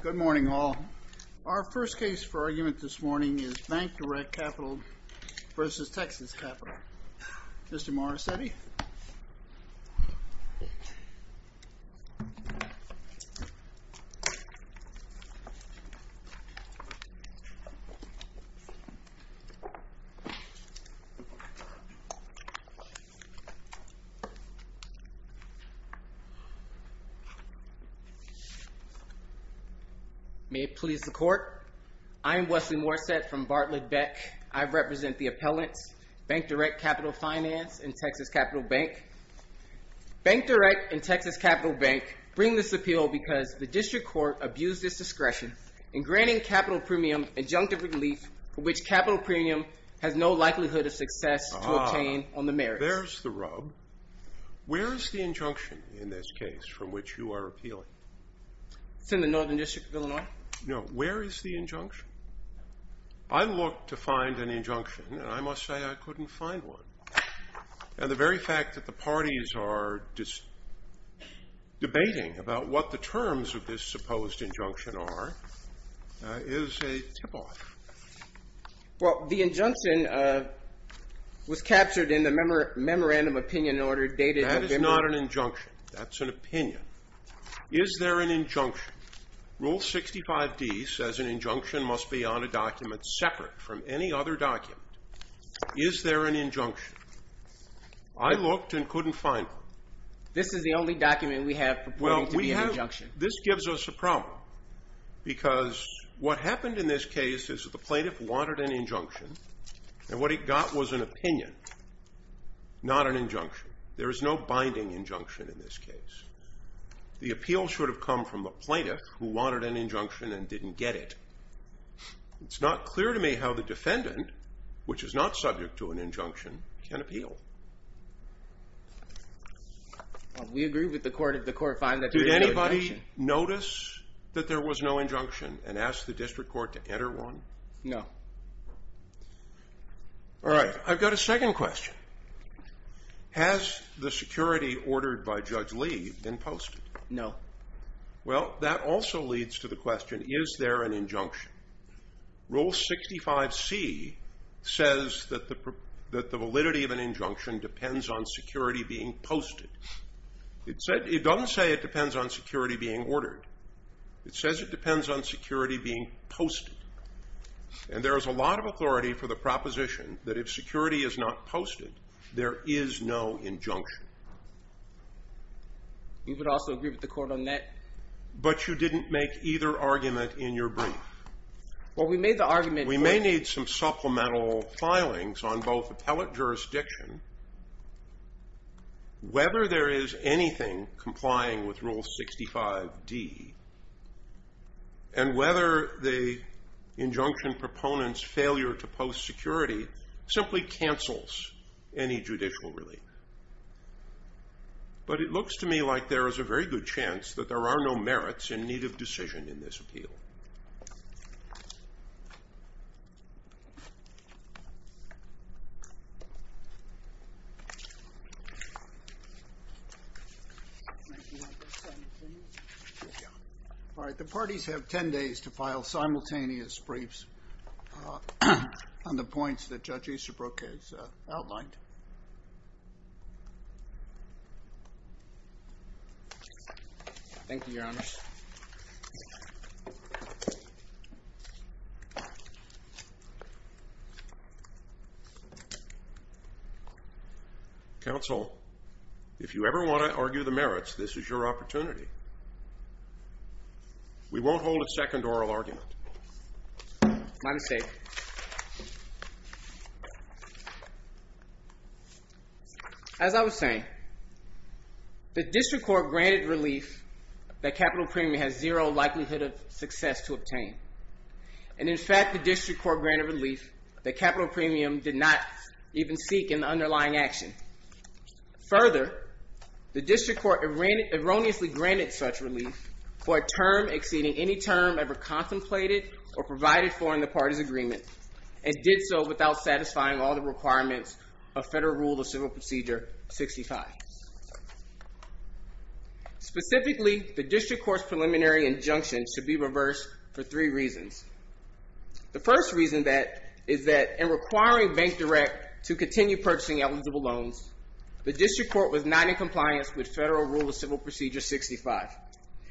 Good morning all. Our first case for argument this morning is BankDirect Capital v. Texas May it please the court, I am Wesley Morset from Bartlett Beck. I represent the appellants, BankDirect Capital Finance and Texas Capital Bank. BankDirect and Texas Capital Bank bring this appeal because the district court abused its discretion in granting capital premium injunctive relief for which capital premium has no likelihood of success to obtain on the merits. There's the rub. Where is the injunction in this case from which you are appealing? It's in the Northern District of Illinois. No, where is the injunction? I looked to find an injunction and I must say I couldn't find one. And the very fact that the parties are debating about what the terms of this supposed injunction are is a tip off. Well, the injunction was captured in the memorandum opinion order dated November... That is not an injunction. That's an opinion. Is there an injunction? Rule 65d says an injunction must be on a document separate from any other document. Is there an injunction? I looked and couldn't find one. This is the only document we have purporting to be an injunction. This gives us a problem because what happened in this case is that the plaintiff wanted an injunction and what he got was an opinion, not an injunction. There is no binding injunction in this case. The appeal should have come from the plaintiff who wanted an injunction and didn't get it. It's not clear to me how the defendant, which is not subject to an injunction, can appeal. We agree with the court finding that there is no injunction. Did anybody notice that there was no injunction and ask the district court to enter one? No. Alright, I've got a second question. Has the security ordered by Judge Lee been posted? No. Rule 65c says that the validity of an injunction depends on security being posted. It doesn't say it depends on security being ordered. It says it depends on security being posted. And there is a lot of authority for the proposition that if security is not posted, there is no injunction. We would also agree with the court on that. But you didn't make either argument in your brief. We may need some supplemental filings on both appellate jurisdiction, whether there is anything complying with Rule 65d, and whether the injunction proponent's failure to post security simply cancels any judicial relief. But it looks to me like there is a very good chance that there are no merits in need of decision in this appeal. Alright, the parties have ten days to file simultaneous briefs on the points that Judge Easterbrook has outlined. Thank you, Your Honor. Counsel, if you ever want to argue the merits, this is your opportunity. We won't hold a second oral argument. My mistake. As I was saying, the district court granted relief that capital premium has zero likelihood of success to obtain. And in fact, the district court granted relief that capital premium did not even seek in the underlying action. Further, the district court erroneously granted such relief for a term exceeding any term ever contemplated or provided for in the parties' agreement, and did so without satisfying all the requirements of Federal Rule of Civil Procedure 65. Specifically, the district court's preliminary injunction should be reversed for three reasons. The first reason is that in requiring Bank Direct to continue purchasing eligible loans, the district court was not in compliance with Federal Rule of Civil Procedure 65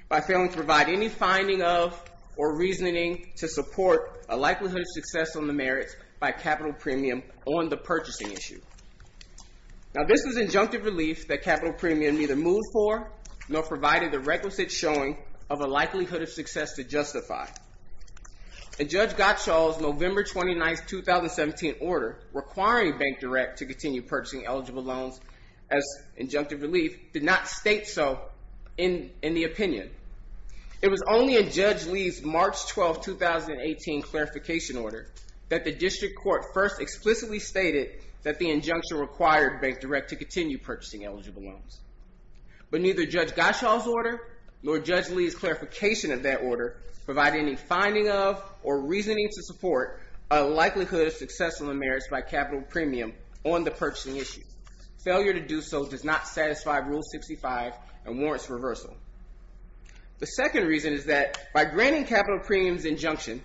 by failing to provide any finding of or reasoning to support a likelihood of success on the merits by capital premium on the purchasing issue. Now, this is injunctive relief that capital premium neither moved for nor provided the requisite showing of a likelihood of success to justify. And Judge Gottschall's November 29, 2017 order requiring Bank Direct to continue purchasing eligible loans as injunctive relief did not state so in the opinion. It was only in Judge Lee's March 12, 2018 clarification order that the district court first explicitly stated that the injunction required Bank Direct to continue purchasing eligible loans. But neither Judge Gottschall's order nor Judge Lee's clarification of that order provided any finding of or reasoning to support a likelihood of success on the merits by capital premium on the purchasing issue. Failure to do so does not satisfy Rule 65 and warrants reversal. The second reason is that by granting capital premium's injunction,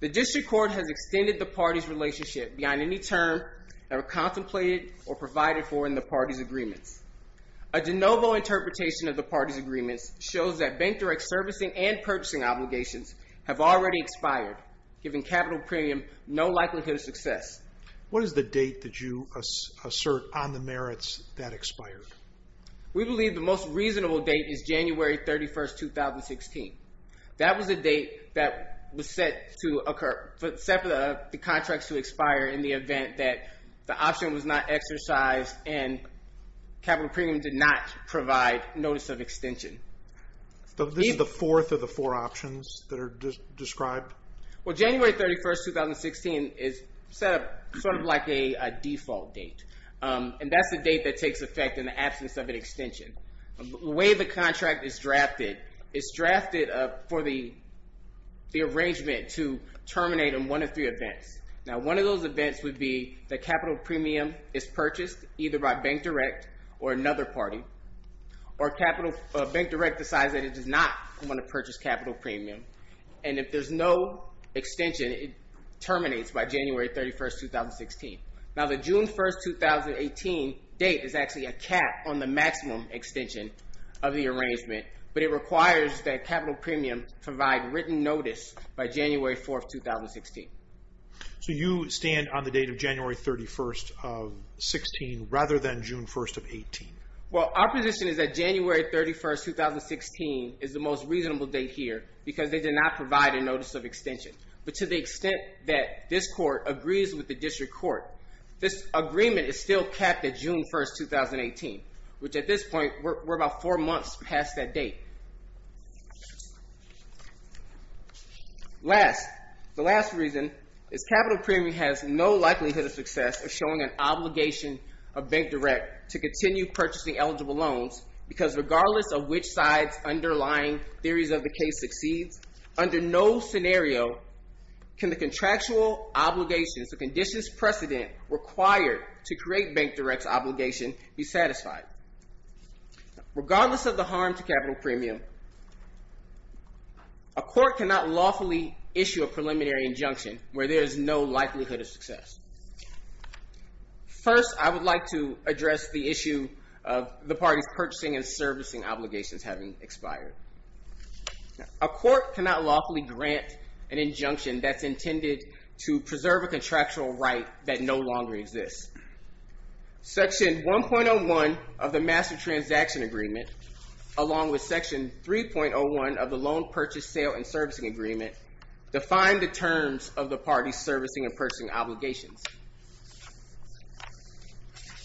the district court has extended the party's relationship beyond any term ever contemplated or provided for in the party's agreements. A de novo interpretation of the party's agreements shows that Bank Direct's servicing and purchasing obligations have already expired, giving capital premium no likelihood of success. What is the date that you assert on the merits that expired? We believe the most reasonable date is January 31, 2016. That was the date that was set for the contracts to expire in the event that the option was not exercised and capital premium did not provide notice of extension. So this is the fourth of the four options that are described? Well, January 31, 2016 is set up sort of like a default date. And that's the date that takes effect in the absence of an extension. The way the contract is drafted, it's drafted for the arrangement to terminate in one of three events. Now, one of those events would be that capital premium is purchased either by Bank Direct or another party, or Bank Direct decides that it does not want to purchase capital premium. And if there's no extension, it terminates by January 31, 2016. Now, the June 1, 2018 date is actually a cap on the maximum extension of the arrangement, but it requires that capital premium provide written notice by January 4, 2016. So you stand on the date of January 31, 2016 rather than June 1, 2018? Well, our position is that January 31, 2016 is the most reasonable date here because they did not provide a notice of extension. But to the extent that this court agrees with the district court, this agreement is still kept at June 1, 2018, which at this point, we're about four months past that date. Last, the last reason is capital premium has no likelihood of success of showing an obligation of Bank Direct to continue purchasing eligible loans because regardless of which side's underlying theories of the case succeeds, under no scenario can the contractual obligations, the conditions precedent required to create Bank Direct's obligation be satisfied. Regardless of the harm to capital premium, a court cannot lawfully issue a preliminary injunction where there is no likelihood of success. First, I would like to address the issue of the parties purchasing and servicing obligations having expired. A court cannot lawfully grant an injunction that's intended to preserve a contractual right that no longer exists. Section 1.01 of the Master Transaction Agreement, along with Section 3.01 of the Loan Purchase, Sale, and Servicing Agreement, define the terms of the parties' servicing and purchasing obligations.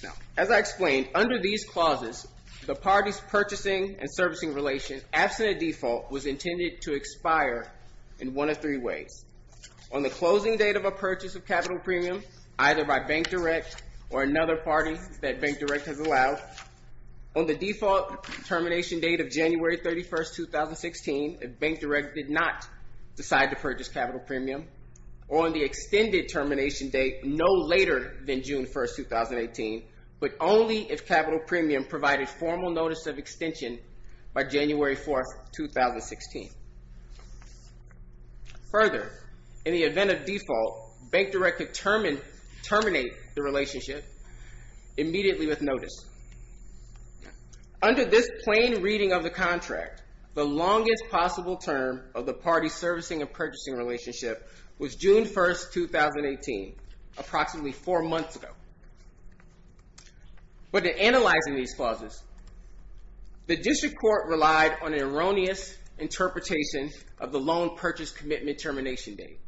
Now, as I explained, under these clauses, the parties' purchasing and servicing relation, absent a default, was intended to expire in one of three ways. On the closing date of a purchase of capital premium, either by Bank Direct or another party that Bank Direct has allowed, on the default termination date of January 31, 2016, if Bank Direct did not decide to purchase capital premium, or on the extended termination date no later than June 1, 2018, but only if capital premium provided formal notice of extension by January 4, 2016. Further, in the event of default, Bank Direct could terminate the relationship immediately with notice. Under this plain reading of the contract, the longest possible term of the parties' servicing and purchasing relationship was June 1, 2018, approximately four months ago. But in analyzing these clauses, the District Court relied on an erroneous interpretation of the loan purchase commitment termination date,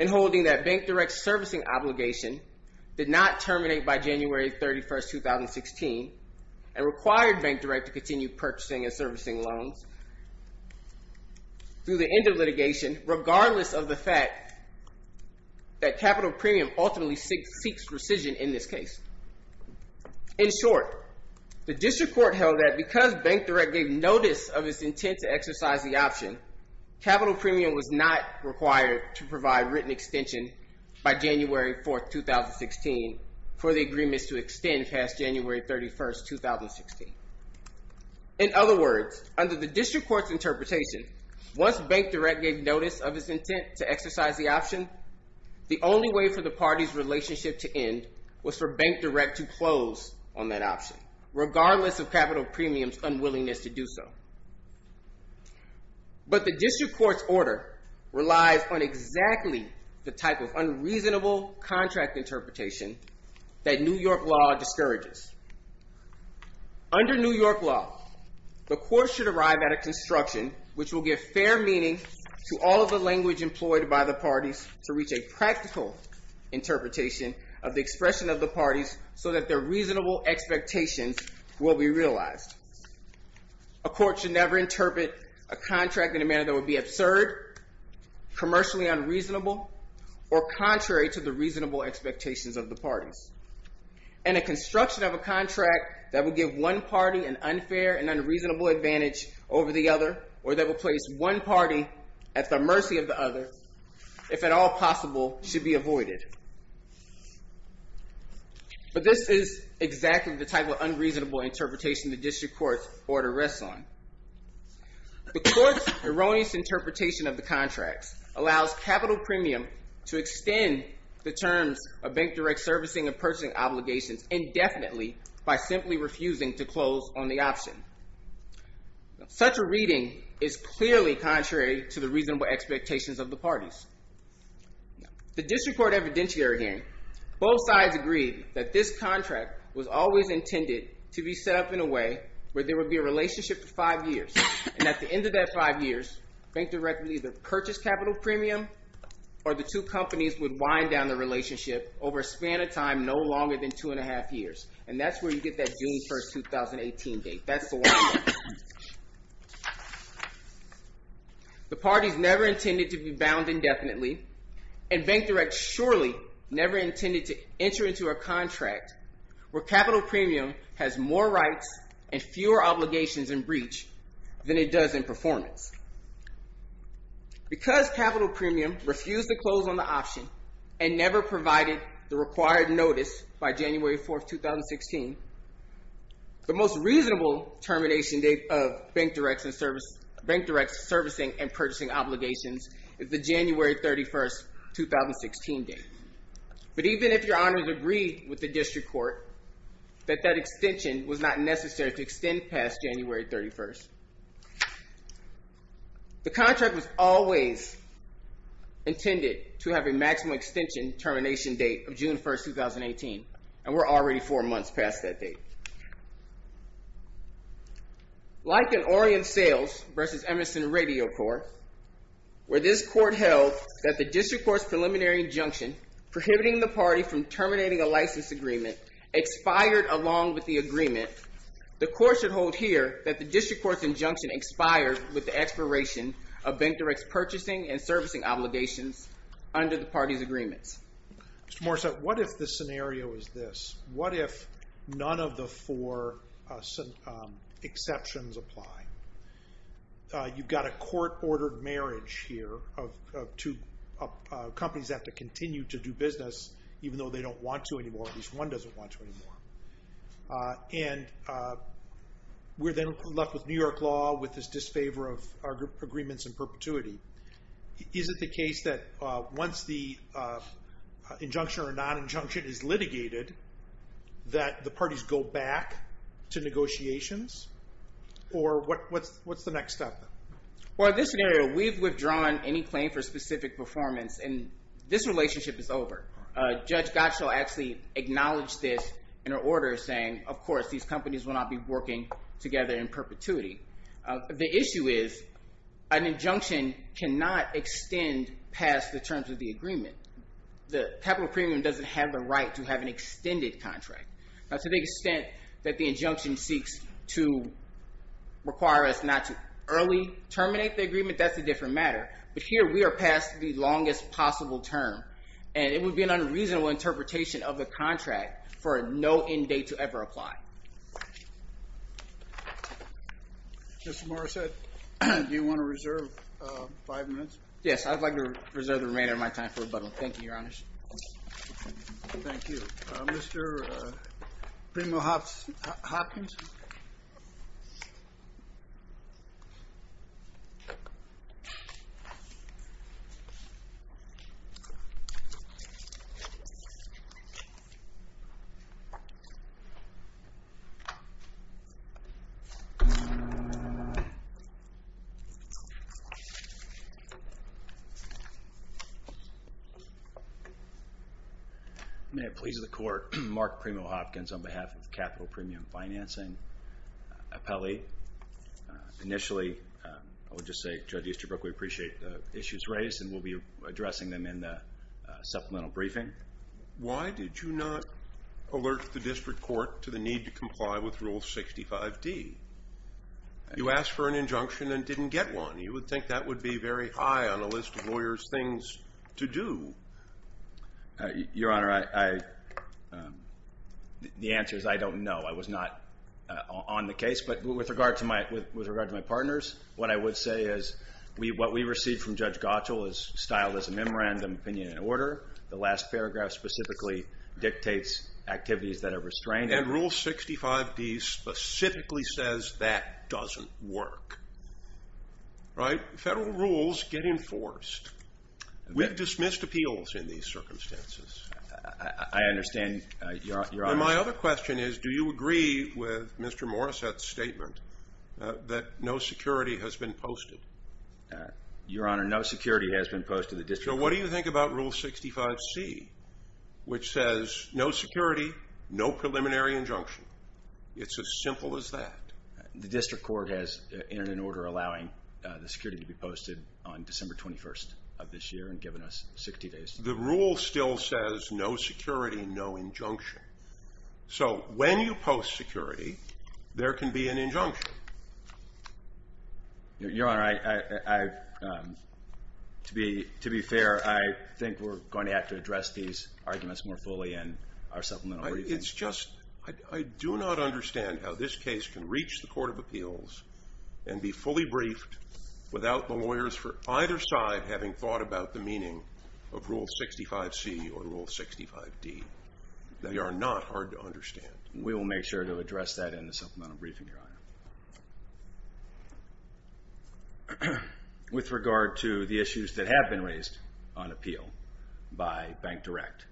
and holding that Bank Direct's servicing obligation did not terminate by January 31, 2016, and required Bank Direct to continue purchasing and servicing loans through the end of litigation, regardless of the fact that capital premium ultimately seeks rescission in this case. In short, the District Court held that because Bank Direct gave notice of its intent to exercise the option, capital premium was not required to provide written extension by January 4, 2016, for the agreements to extend past January 31, 2016. In other words, under the District Court's interpretation, once Bank Direct gave notice of its intent to exercise the option, the only way for the parties' relationship to end was for Bank Direct to close on that option, regardless of capital premium's unwillingness to do so. But the District Court's order relies on exactly the type of unreasonable contract interpretation that New York law discourages. Under New York law, the court should arrive at a construction which will give fair meaning to all of the language employed by the parties to reach a practical interpretation of the expression of the parties so that their reasonable expectations will be realized. A court should never interpret a contract in a manner that would be absurd, commercially unreasonable, or contrary to the reasonable expectations of the parties. And a construction of a contract that would give one party an unfair and unreasonable advantage over the other, or that would place one party at the mercy of the other, if at all possible, should be avoided. But this is exactly the type of unreasonable interpretation the District Court's order rests on. The court's erroneous interpretation of the contracts allows capital premium to extend the terms of Bank Direct's servicing and purchasing obligations indefinitely by simply refusing to close on the option. Such a reading is clearly contrary to the reasonable expectations of the parties. The District Court evidentiary hearing, both sides agreed that this contract was always intended to be set up in a way where there would be a relationship for five years. And at the end of that five years, Bank Direct would either purchase capital premium or the two companies would wind down the relationship over a span of time no longer than two and a half years. And that's where you get that June 1, 2018 date. That's the one. The parties never intended to be bound indefinitely, and Bank Direct surely never intended to enter into a contract where capital premium has more rights and fewer obligations and breach than it does in performance. Because capital premium refused to close on the option and never provided the required notice by January 4, 2016, the most reasonable termination date of Bank Direct's servicing and purchasing obligations is the January 31, 2016 date. But even if Your Honors agreed with the District Court that that extension was not necessary to extend past January 31, the contract was always intended to have a maximum extension termination date of June 1, 2018, and we're already four months past that date. Like an Orion Sales v. Emerson Radio Corps, where this court held that the District Court's preliminary injunction, prohibiting the party from terminating a license agreement, expired along with the agreement, the court should hold here that the District Court's injunction expired with the expiration of Bank Direct's purchasing and servicing obligations under the party's agreements. Mr. Morissette, what if the scenario is this? What if none of the four exceptions apply? You've got a court-ordered marriage here of two companies that have to continue to do business even though they don't want to anymore, at least one doesn't want to anymore. And we're then left with New York law with this disfavor of our agreements in perpetuity. Is it the case that once the injunction or non-injunction is litigated that the parties go back to negotiations? Or what's the next step? Well, in this scenario, we've withdrawn any claim for specific performance and this relationship is over. Judge Gottschall actually acknowledged this in her order saying, of course, these companies will not be working together in perpetuity. The issue is an injunction cannot extend past the terms of the agreement. The capital premium doesn't have the right to have an extended contract. Now, to the extent that the injunction seeks to require us not to early terminate the agreement, that's a different matter. But here we are past the longest possible term. And it would be an unreasonable interpretation of the contract for a no end date to ever apply. Mr. Morissette, do you want to reserve five minutes? Yes, I'd like to reserve the remainder of my time for rebuttal. Thank you, Your Honors. Thank you. Mr. Primo-Hopkins? May it please the Court. Mark Primo-Hopkins on behalf of Capital Premium Financing. Appellee. Initially, I would just say, Judge Easterbrook, we appreciate the issues raised and we'll be addressing them in the supplemental briefing. Why did you not alert the district court to the need to comply with Rule 65D? You asked for an injunction and didn't get one. You would think that would be very high on a list of lawyers' things to do. Your Honor, the answer is I don't know. I was not on the case. But with regard to my partners, what I would say is what we received from Judge Gottschall is styled as a memorandum of opinion and order. The last paragraph specifically dictates activities that are restrained. And Rule 65D specifically says that doesn't work. Federal rules get enforced. We've dismissed appeals in these circumstances. I understand, Your Honor. My other question is do you agree with Mr. Morrissette's statement that no security has been posted? Your Honor, no security has been posted. So what do you think about Rule 65C, which says no security, no preliminary injunction? It's as simple as that. The district court has entered an order allowing the security to be posted on December 21st of this year and given us 60 days. The rule still says no security, no injunction. So when you post security, there can be an injunction. Your Honor, to be fair, I think we're going to have to address these arguments more fully in our supplemental briefings. It's just I do not understand how this case can reach the Court of Appeals and be fully briefed without the lawyers for either side having thought about the meaning of Rule 65C or Rule 65D. They are not hard to understand. We will make sure to address that in the supplemental briefing, Your Honor. With regard to the issues that have been raised on appeal by Bank Direct,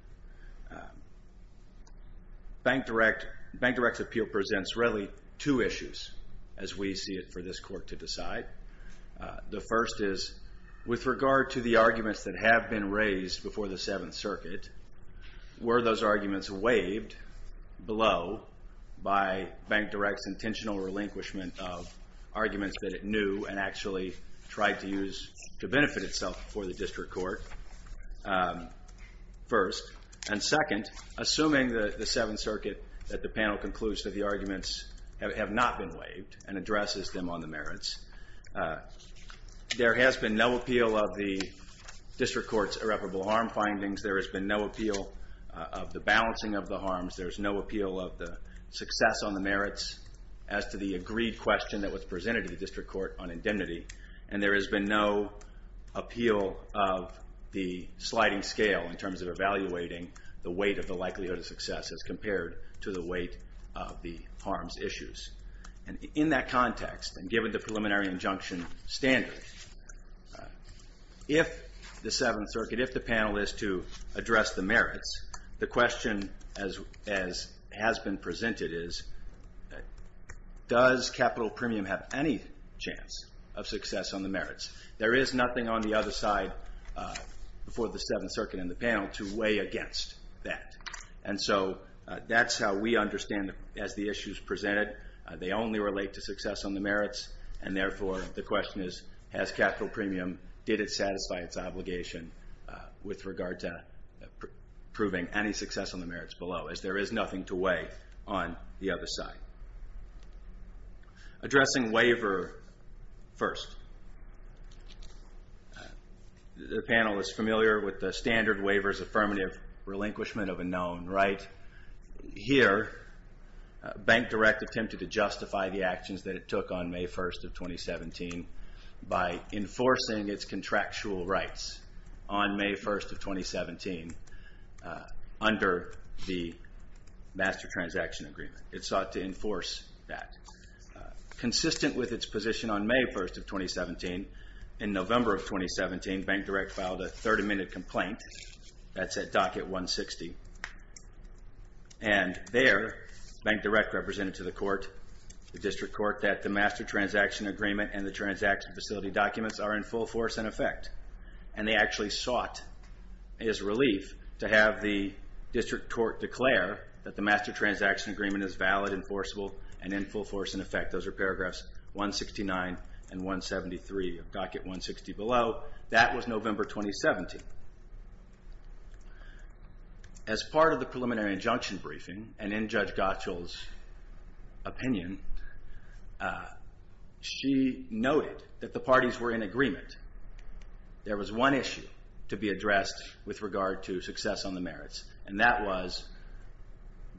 Bank Direct's appeal presents really two issues as we see it for this court to decide. The first is with regard to the arguments that have been raised before the Seventh Circuit, were those arguments waived below by Bank Direct's intentional relinquishment of arguments that it knew and actually tried to use to benefit itself before the district court first? And second, assuming the Seventh Circuit at the panel concludes that the arguments have not been waived and addresses them on the merits, there has been no appeal of the district court's irreparable harm findings. There has been no appeal of the balancing of the harms. There's no appeal of the success on the merits as to the agreed question that was presented to the district court on indemnity. And there has been no appeal of the sliding scale in terms of evaluating the weight of the likelihood of success as compared to the weight of the harms issues. And in that context, and given the preliminary injunction standard, if the Seventh Circuit, if the panel is to address the merits, the question as has been presented is, does capital premium have any chance of success on the merits? There is nothing on the other side before the Seventh Circuit and the panel to weigh against that. And so that's how we understand it as the issues presented. They only relate to success on the merits, and therefore the question is, has capital premium, did it satisfy its obligation with regard to proving any success on the merits below, as there is nothing to weigh on the other side. Addressing waiver first. The panel is familiar with the standard waiver's affirmative relinquishment of a known right. Here, Bank Direct attempted to justify the actions that it took on May 1st of 2017 by enforcing its contractual rights on May 1st of 2017 under the Master Transaction Agreement. It sought to enforce that. Consistent with its position on May 1st of 2017, in November of 2017, Bank Direct filed a 30-minute complaint. That's at docket 160. And there, Bank Direct represented to the court, the district court, that the Master Transaction Agreement and the transaction facility documents are in full force in effect. And they actually sought, as relief, to have the district court declare that the Master Transaction Agreement is valid, enforceable, and in full force in effect. Those are paragraphs 169 and 173 of docket 160 below. That was November 2017. As part of the preliminary injunction briefing, and in Judge Gottschall's opinion, she noted that the parties were in agreement. There was one issue to be addressed with regard to success on the merits, and that was,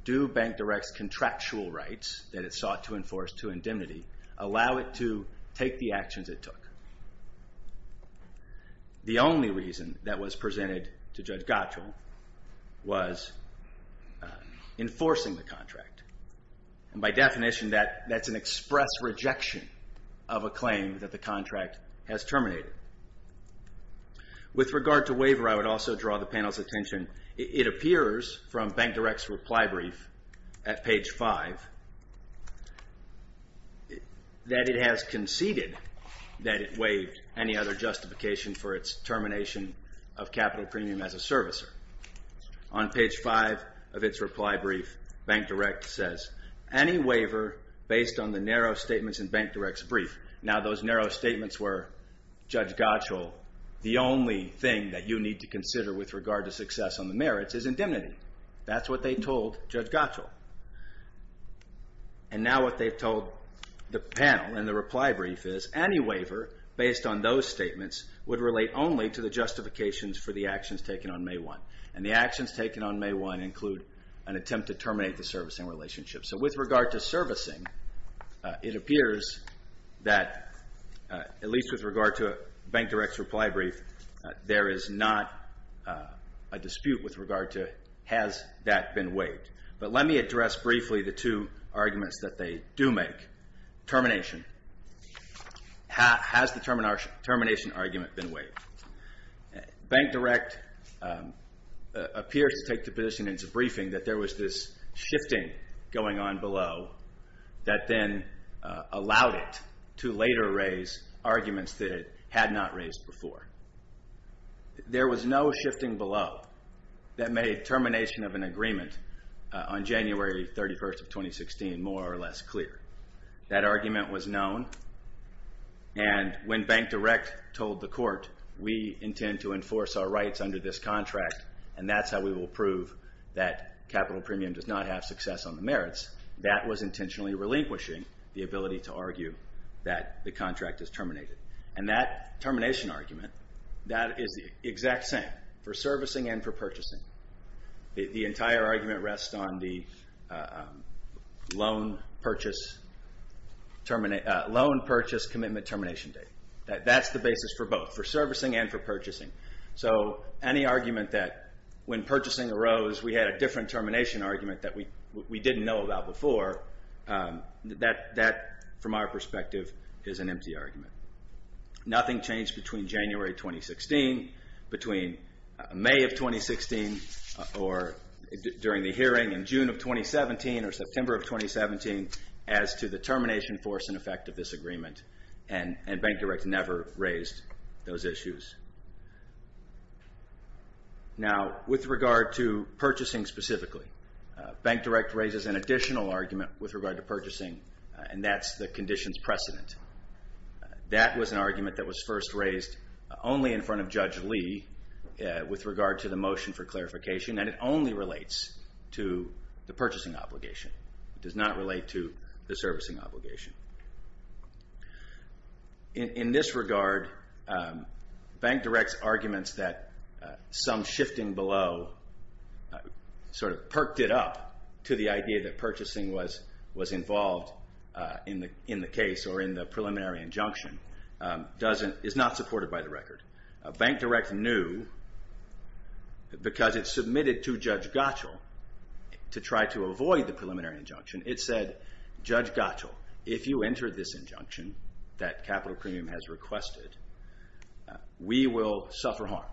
do Bank Direct's contractual rights that it sought to enforce to indemnity allow it to take the actions it took? The only reason that was presented to Judge Gottschall was enforcing the contract. And by definition, that's an express rejection of a claim that the contract has terminated. With regard to waiver, I would also draw the panel's attention. It appears from Bank Direct's reply brief at page 5 that it has conceded that it waived any other justification for its termination of capital premium as a servicer. On page 5 of its reply brief, Bank Direct says, any waiver based on the narrow statements in Bank Direct's brief. Now, those narrow statements were, Judge Gottschall, the only thing that you need to consider with regard to success on the merits is indemnity. That's what they told Judge Gottschall. And now what they've told the panel in the reply brief is, any waiver based on those statements would relate only to the justifications for the actions taken on May 1. And the actions taken on May 1 include an attempt to terminate the servicing relationship. So with regard to servicing, it appears that, at least with regard to Bank Direct's reply brief, there is not a dispute with regard to has that been waived. But let me address briefly the two arguments that they do make. Termination. Has the termination argument been waived? Bank Direct appears to take the position in its briefing that there was this shifting going on below that then allowed it to later raise arguments that it had not raised before. There was no shifting below that made termination of an agreement on January 31st of 2016 more or less clear. That argument was known. And when Bank Direct told the court, we intend to enforce our rights under this contract, and that's how we will prove that capital premium does not have success on the merits, that was intentionally relinquishing the ability to argue that the contract is terminated. And that termination argument, that is the exact same for servicing and for purchasing. The entire argument rests on the loan purchase commitment termination date. That's the basis for both, for servicing and for purchasing. So any argument that when purchasing arose, we had a different termination argument that we didn't know about before, that from our perspective is an empty argument. Nothing changed between January 2016, between May of 2016, or during the hearing in June of 2017 or September of 2017 as to the termination force and effect of this agreement. And Bank Direct never raised those issues. Now, with regard to purchasing specifically, Bank Direct raises an additional argument with regard to purchasing, and that's the conditions precedent. That was an argument that was first raised only in front of Judge Lee with regard to the motion for clarification, and it only relates to the purchasing obligation. It does not relate to the servicing obligation. In this regard, Bank Direct's arguments that some shifting below sort of perked it up to the idea that purchasing was involved in the case or in the preliminary injunction is not supported by the record. Bank Direct knew, because it submitted to Judge Gottschall to try to avoid the preliminary injunction, it said, Judge Gottschall, if you enter this injunction that Capital Premium has requested, we will suffer harm.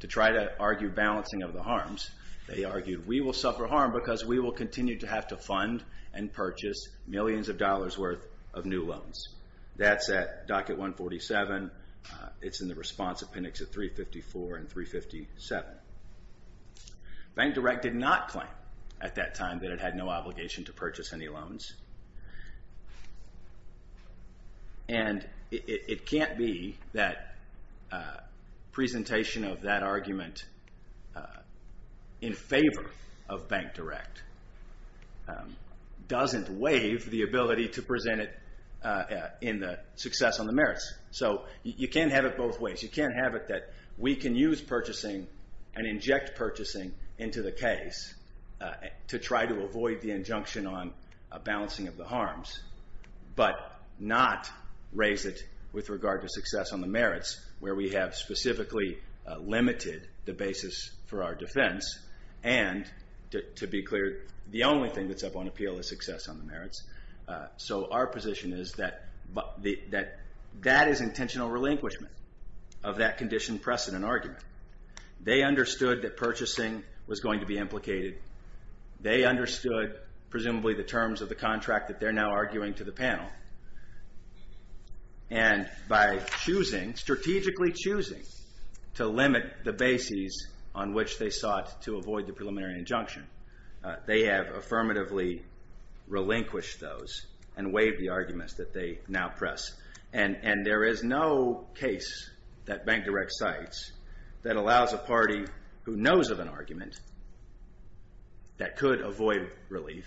To try to argue balancing of the harms, they argued, we will suffer harm because we will continue to have to fund and purchase millions of dollars' worth of new loans. That's at Docket 147. It's in the response appendix at 354 and 357. Bank Direct did not claim at that time that it had no obligation to purchase any loans. And it can't be that presentation of that argument in favor of Bank Direct doesn't waive the ability to present it in the success on the merits. So you can't have it both ways. You can't have it that we can use purchasing and inject purchasing into the case to try to avoid the injunction on balancing of the harms, but not raise it with regard to success on the merits where we have specifically limited the basis for our defense and, to be clear, the only thing that's up on appeal is success on the merits. So our position is that that is intentional relinquishment of that condition precedent argument. They understood that purchasing was going to be implicated. They understood, presumably, the terms of the contract that they're now arguing to the panel. And by choosing, strategically choosing, to limit the basis on which they sought to avoid the preliminary injunction, they have affirmatively relinquished those and waived the arguments that they now press. And there is no case that Bank Direct cites that allows a party who knows of an argument that could avoid relief,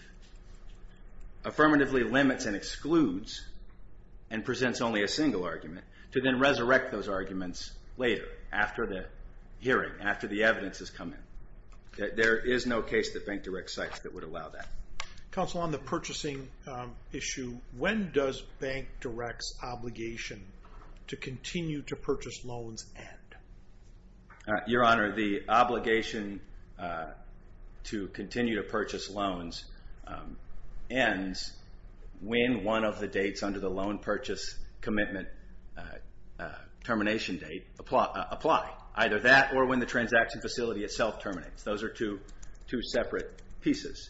affirmatively limits and excludes and presents only a single argument to then resurrect those arguments later, after the hearing, after the evidence has come in. There is no case that Bank Direct cites that would allow that. Counsel, on the purchasing issue, when does Bank Direct's obligation to continue to purchase loans end? Your Honor, the obligation to continue to purchase loans ends when one of the dates under the loan purchase commitment termination date apply. Either that or when the transaction facility itself terminates. Those are two separate pieces.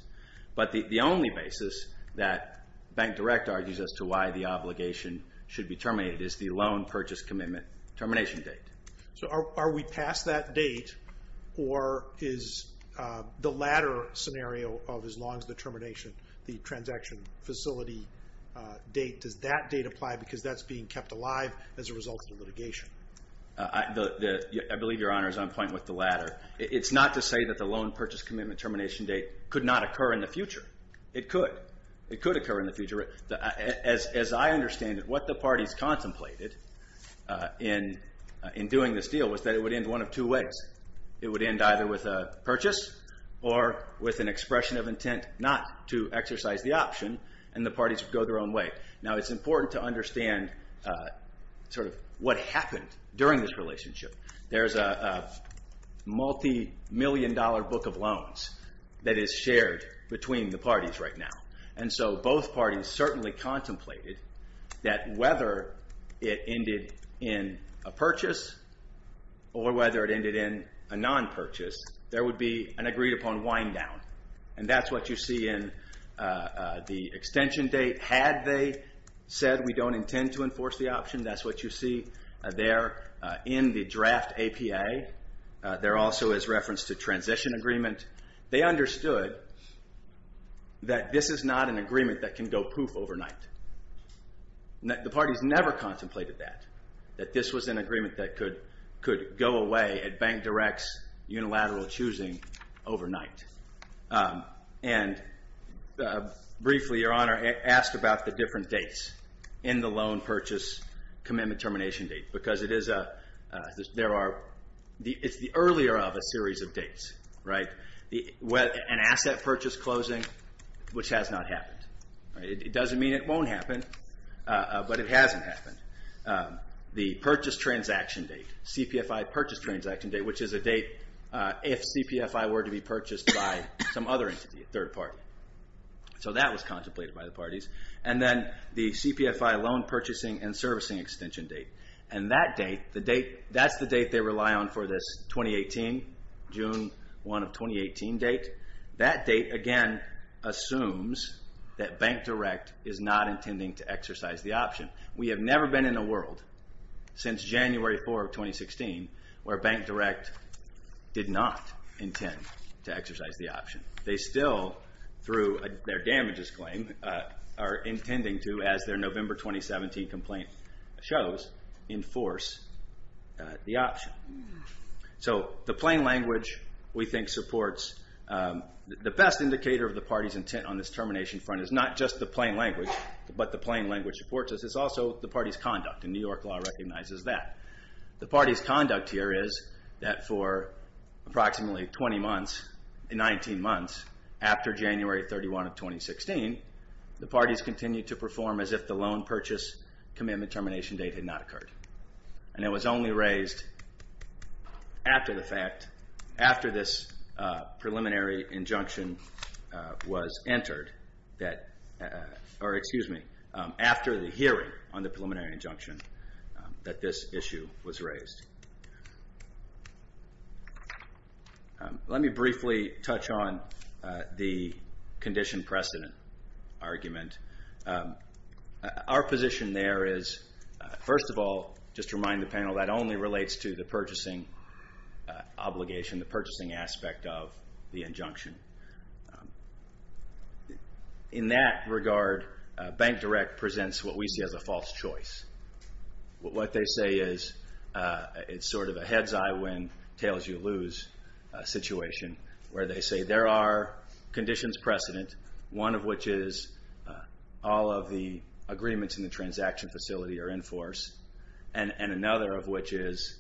But the only basis that Bank Direct argues as to why the obligation should be terminated is the loan purchase commitment termination date. So are we past that date, or is the latter scenario of as long as the termination, the transaction facility date, does that date apply because that's being kept alive as a result of the litigation? I believe Your Honor is on point with the latter. It's not to say that the loan purchase commitment termination date could not occur in the future. It could. It could occur in the future. As I understand it, what the parties contemplated in doing this deal was that it would end one of two ways. It would end either with a purchase or with an expression of intent not to exercise the option, and the parties would go their own way. Now it's important to understand sort of what happened during this relationship. There's a multi-million dollar book of loans that is shared between the parties right now. And so both parties certainly contemplated that whether it ended in a purchase or whether it ended in a non-purchase, there would be an agreed-upon wind-down. And that's what you see in the extension date. Had they said, we don't intend to enforce the option, that's what you see there in the draft APA. There also is reference to transition agreement. They understood that this is not an agreement that can go poof overnight. The parties never contemplated that, that this was an agreement that could go away at Bank Direct's unilateral choosing overnight. And briefly, Your Honor, asked about the different dates in the loan purchase commitment termination date because it's the earlier of a series of dates. An asset purchase closing, which has not happened. It doesn't mean it won't happen, but it hasn't happened. The purchase transaction date, CPFI purchase transaction date, which is a date if CPFI were to be purchased by some other entity, a third party. So that was contemplated by the parties. And then the CPFI loan purchasing and servicing extension date. And that date, that's the date they rely on for this, 2018, June 1 of 2018 date. That date, again, assumes that Bank Direct is not intending to exercise the option. We have never been in a world since January 4 of 2016 where Bank Direct did not intend to exercise the option. They still, through their damages claim, are intending to, as their November 2017 complaint shows, enforce the option. So the plain language, we think, supports... The best indicator of the party's intent on this termination front is not just the plain language, but the plain language supports it. It's also the party's conduct, and New York law recognizes that. The party's conduct here is that for approximately 20 months, 19 months, after January 31 of 2016, the parties continued to perform as if the loan purchase commitment termination date had not occurred. And it was only raised after the fact, after this preliminary injunction was entered, or, excuse me, after the hearing on the preliminary injunction, that this issue was raised. Let me briefly touch on the condition precedent argument. Our position there is, first of all, just to remind the panel, that only relates to the purchasing obligation, the purchasing aspect of the injunction. In that regard, Bank Direct presents what we see as a false choice. What they say is, it's sort of a head's-eye-win-tails-you-lose situation, where they say there are conditions precedent, one of which is all of the agreements in the transaction facility are in force, and another of which is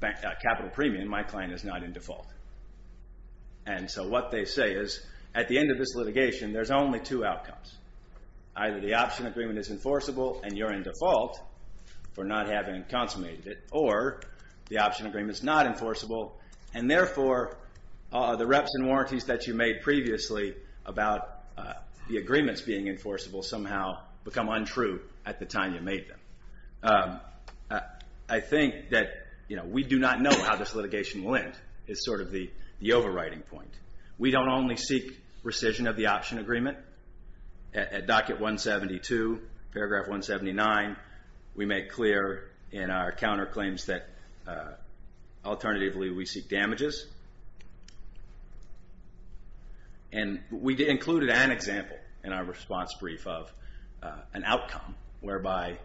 capital premium, my client, is not in default. And so what they say is, at the end of this litigation, there's only two outcomes. Either the option agreement is enforceable, and you're in default, for not having consummated it, or the option agreement is not enforceable, and therefore, the reps and warranties that you made previously about the agreements being enforceable somehow become untrue at the time you made them. I think that we do not know how this litigation will end, is sort of the overriding point. We don't only seek rescission of the option agreement, at docket 172, paragraph 179, we make clear in our counterclaims that alternatively we seek damages. And we included an example in our response brief of an outcome, whereby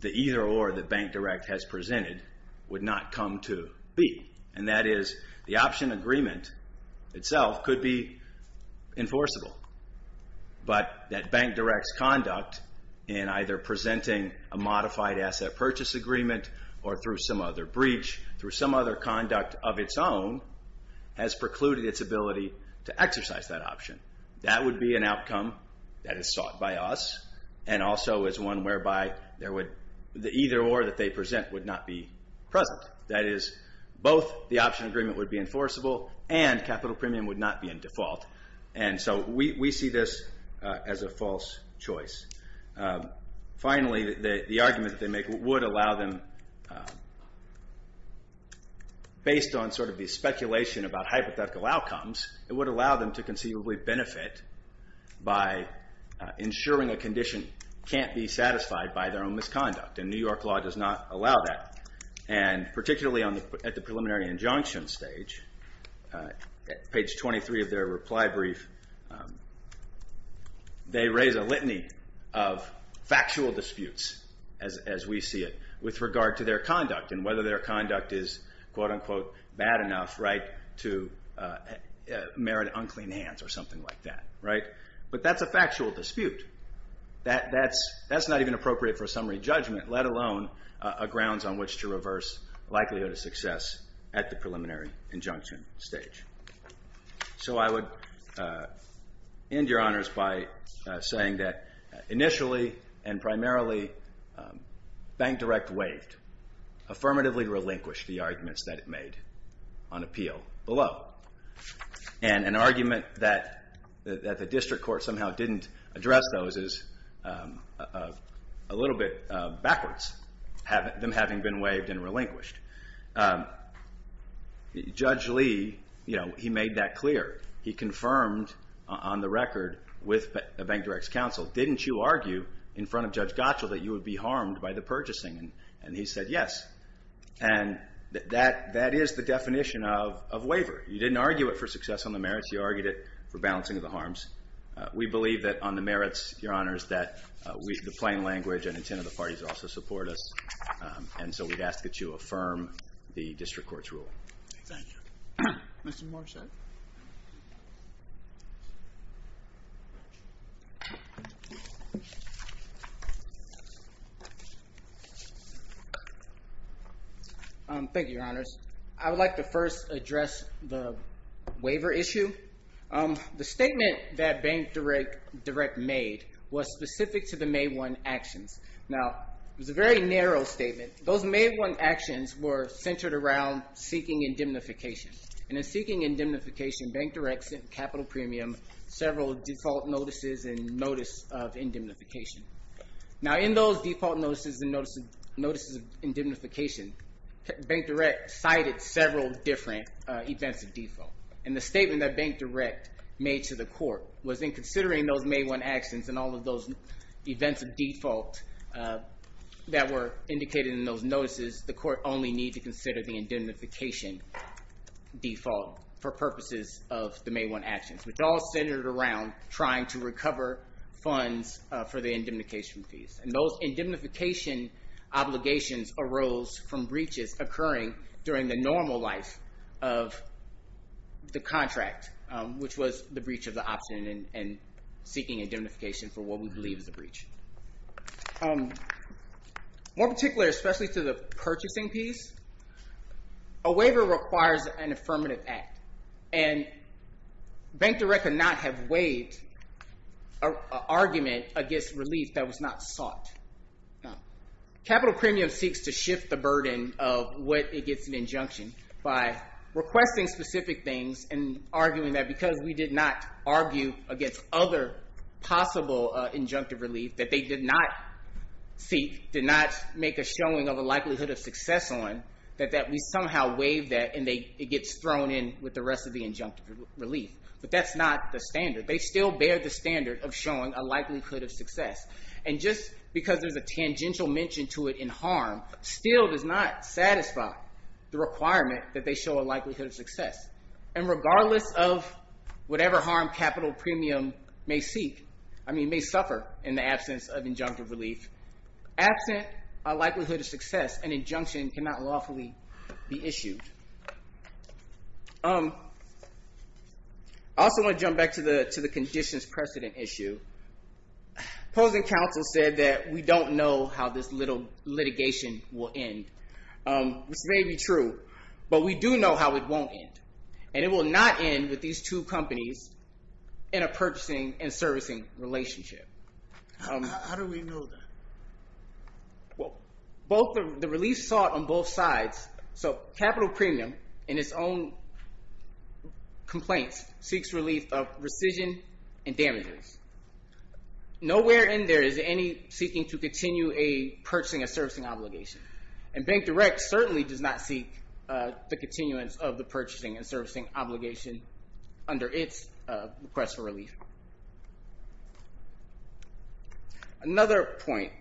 the either-or that Bank Direct has presented would not come to be. And that is, the option agreement itself could be enforceable. But that Bank Direct's conduct in either presenting a modified asset purchase agreement or through some other breach, through some other conduct of its own, has precluded its ability to exercise that option. That would be an outcome that is sought by us, and also is one whereby the either-or that they present would not be present. That is, both the option agreement would be enforceable, and capital premium would not be in default. And so we see this as a false choice. Finally, the argument that they make would allow them, based on sort of the speculation about hypothetical outcomes, it would allow them to conceivably benefit by ensuring a condition can't be satisfied by their own misconduct. And New York law does not allow that. And particularly at the preliminary injunction stage, page 23 of their reply brief, they raise a litany of factual disputes, as we see it, with regard to their conduct, and whether their conduct is, quote-unquote, bad enough to merit unclean hands or something like that. But that's a factual dispute. That's not even appropriate for summary judgment, let alone a grounds on which to reverse likelihood of success at the preliminary injunction stage. So I would end, Your Honors, by saying that initially and primarily, Bank Direct waived, affirmatively relinquished the arguments that it made on appeal below. And an argument that the district court somehow didn't address those is a little bit backwards, them having been waived and relinquished. Judge Lee, you know, he made that clear. He confirmed on the record with Bank Direct's counsel, didn't you argue in front of Judge Gottschall that you would be harmed by the purchasing? And he said yes. And that is the definition of waiver. You didn't argue it for success on the merits, you argued it for balancing of the harms. We believe that on the merits, Your Honors, that the plain language and intent of the parties also support us. And so we'd ask that you affirm the district court's rule. Thank you. Mr. Morset. Thank you, Your Honors. I would like to first address the waiver issue. The statement that Bank Direct made was specific to the May 1 actions. Now, it was a very narrow statement. Those May 1 actions were centered around seeking indemnification. And in seeking indemnification, Bank Direct sent Capital Premium several default notices and notice of indemnification. Now, in those default notices and notices of indemnification, Bank Direct cited several different events of default. And the statement that Bank Direct made to the court was in considering those May 1 actions and all of those events of default that were indicated in those notices, the court only need to consider the indemnification default for purposes of the May 1 actions, which all centered around trying to recover funds for the indemnification fees. And those indemnification obligations arose from breaches occurring during the normal life of the contract, which was the breach of the option and seeking indemnification for what we believe is a breach. More particularly, especially to the purchasing piece, a waiver requires an affirmative act. And Bank Direct could not have waived an argument against relief that was not sought. Capital Premium seeks to shift the burden of what it gets in injunction by requesting specific things and arguing that because we did not argue against other possible injunctive relief that they did not seek, did not make a showing of a likelihood of success on, that we somehow waived that and it gets thrown in with the rest of the injunctive relief. But that's not the standard. They still bear the standard of showing a likelihood of success. And just because there's a tangential mention to it in harm still does not satisfy the requirement that they show a likelihood of success. And regardless of whatever harm Capital Premium may seek, I mean may suffer in the absence of injunctive relief, absent a likelihood of success, an injunction cannot lawfully be issued. I also want to jump back to the conditions precedent issue. Opposing counsel said that we don't know how this litigation will end, which may be true. But we do know how it won't end. And it will not end with these two companies in a purchasing and servicing relationship. How do we know that? The relief sought on both sides. So Capital Premium in its own complaints seeks relief of rescission and damages. Nowhere in there is any seeking to continue purchasing a servicing obligation. And Bank Direct certainly does not seek the continuance of the purchasing and servicing obligation under its request for relief. Another point.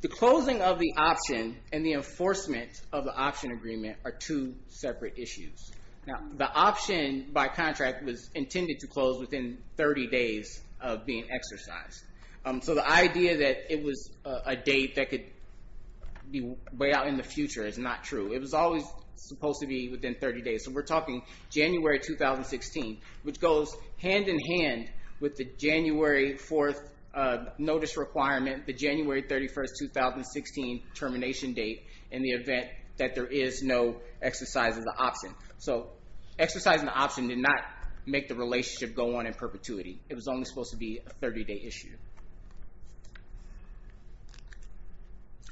The closing of the option and the enforcement of the option agreement are two separate issues. Now the option by contract was intended to close within 30 days of being exercised. So the idea that it was a date that could be way out in the future is not true. It was always supposed to be within 30 days. So we're talking January 2016, which goes hand in hand with the January 4th notice requirement, the January 31st, 2016 termination date, in the event that there is no exercise of the option. So exercising the option did not make the relationship go on in perpetuity. It was only supposed to be a 30-day issue.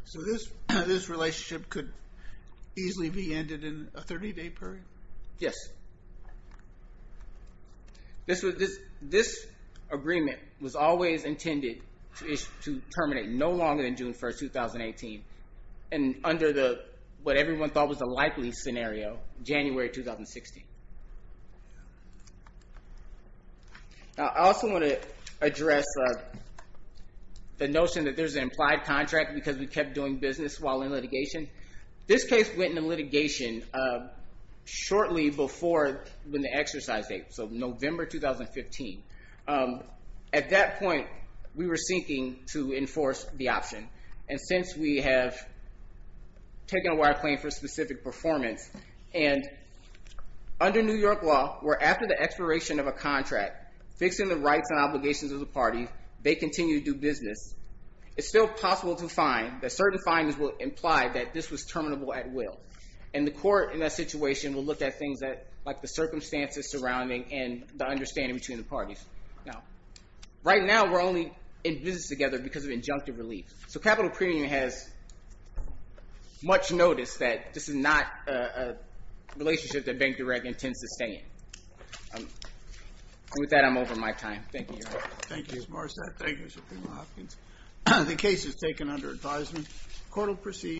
So this relationship could easily be ended in a 30-day period? Yes. This agreement was always intended to terminate no longer than June 1st, 2018 and under what everyone thought was the likely scenario, January 2016. Now I also want to address the notion that there's an implied contract because we kept doing business while in litigation. This case went into litigation shortly before the exercise date, so November 2015. At that point, we were seeking to enforce the option. And since we have taken a wide claim for specific performance and under New York law, where after the expiration of a contract, fixing the rights and obligations of the parties, they continue to do business, it's still possible to find that certain findings will imply that this was terminable at will. And the court in that situation will look at things like the circumstances surrounding and the understanding between the parties. Right now, we're only in business together because of injunctive relief. So capital premium has much notice that this is not a relationship that Bank Direct intends to sustain. With that, I'm over my time. Thank you, Your Honor. Thank you, Mr. Marsad. Thank you, Mr. Pena-Hopkins. The case is taken under advisement. Court will proceed.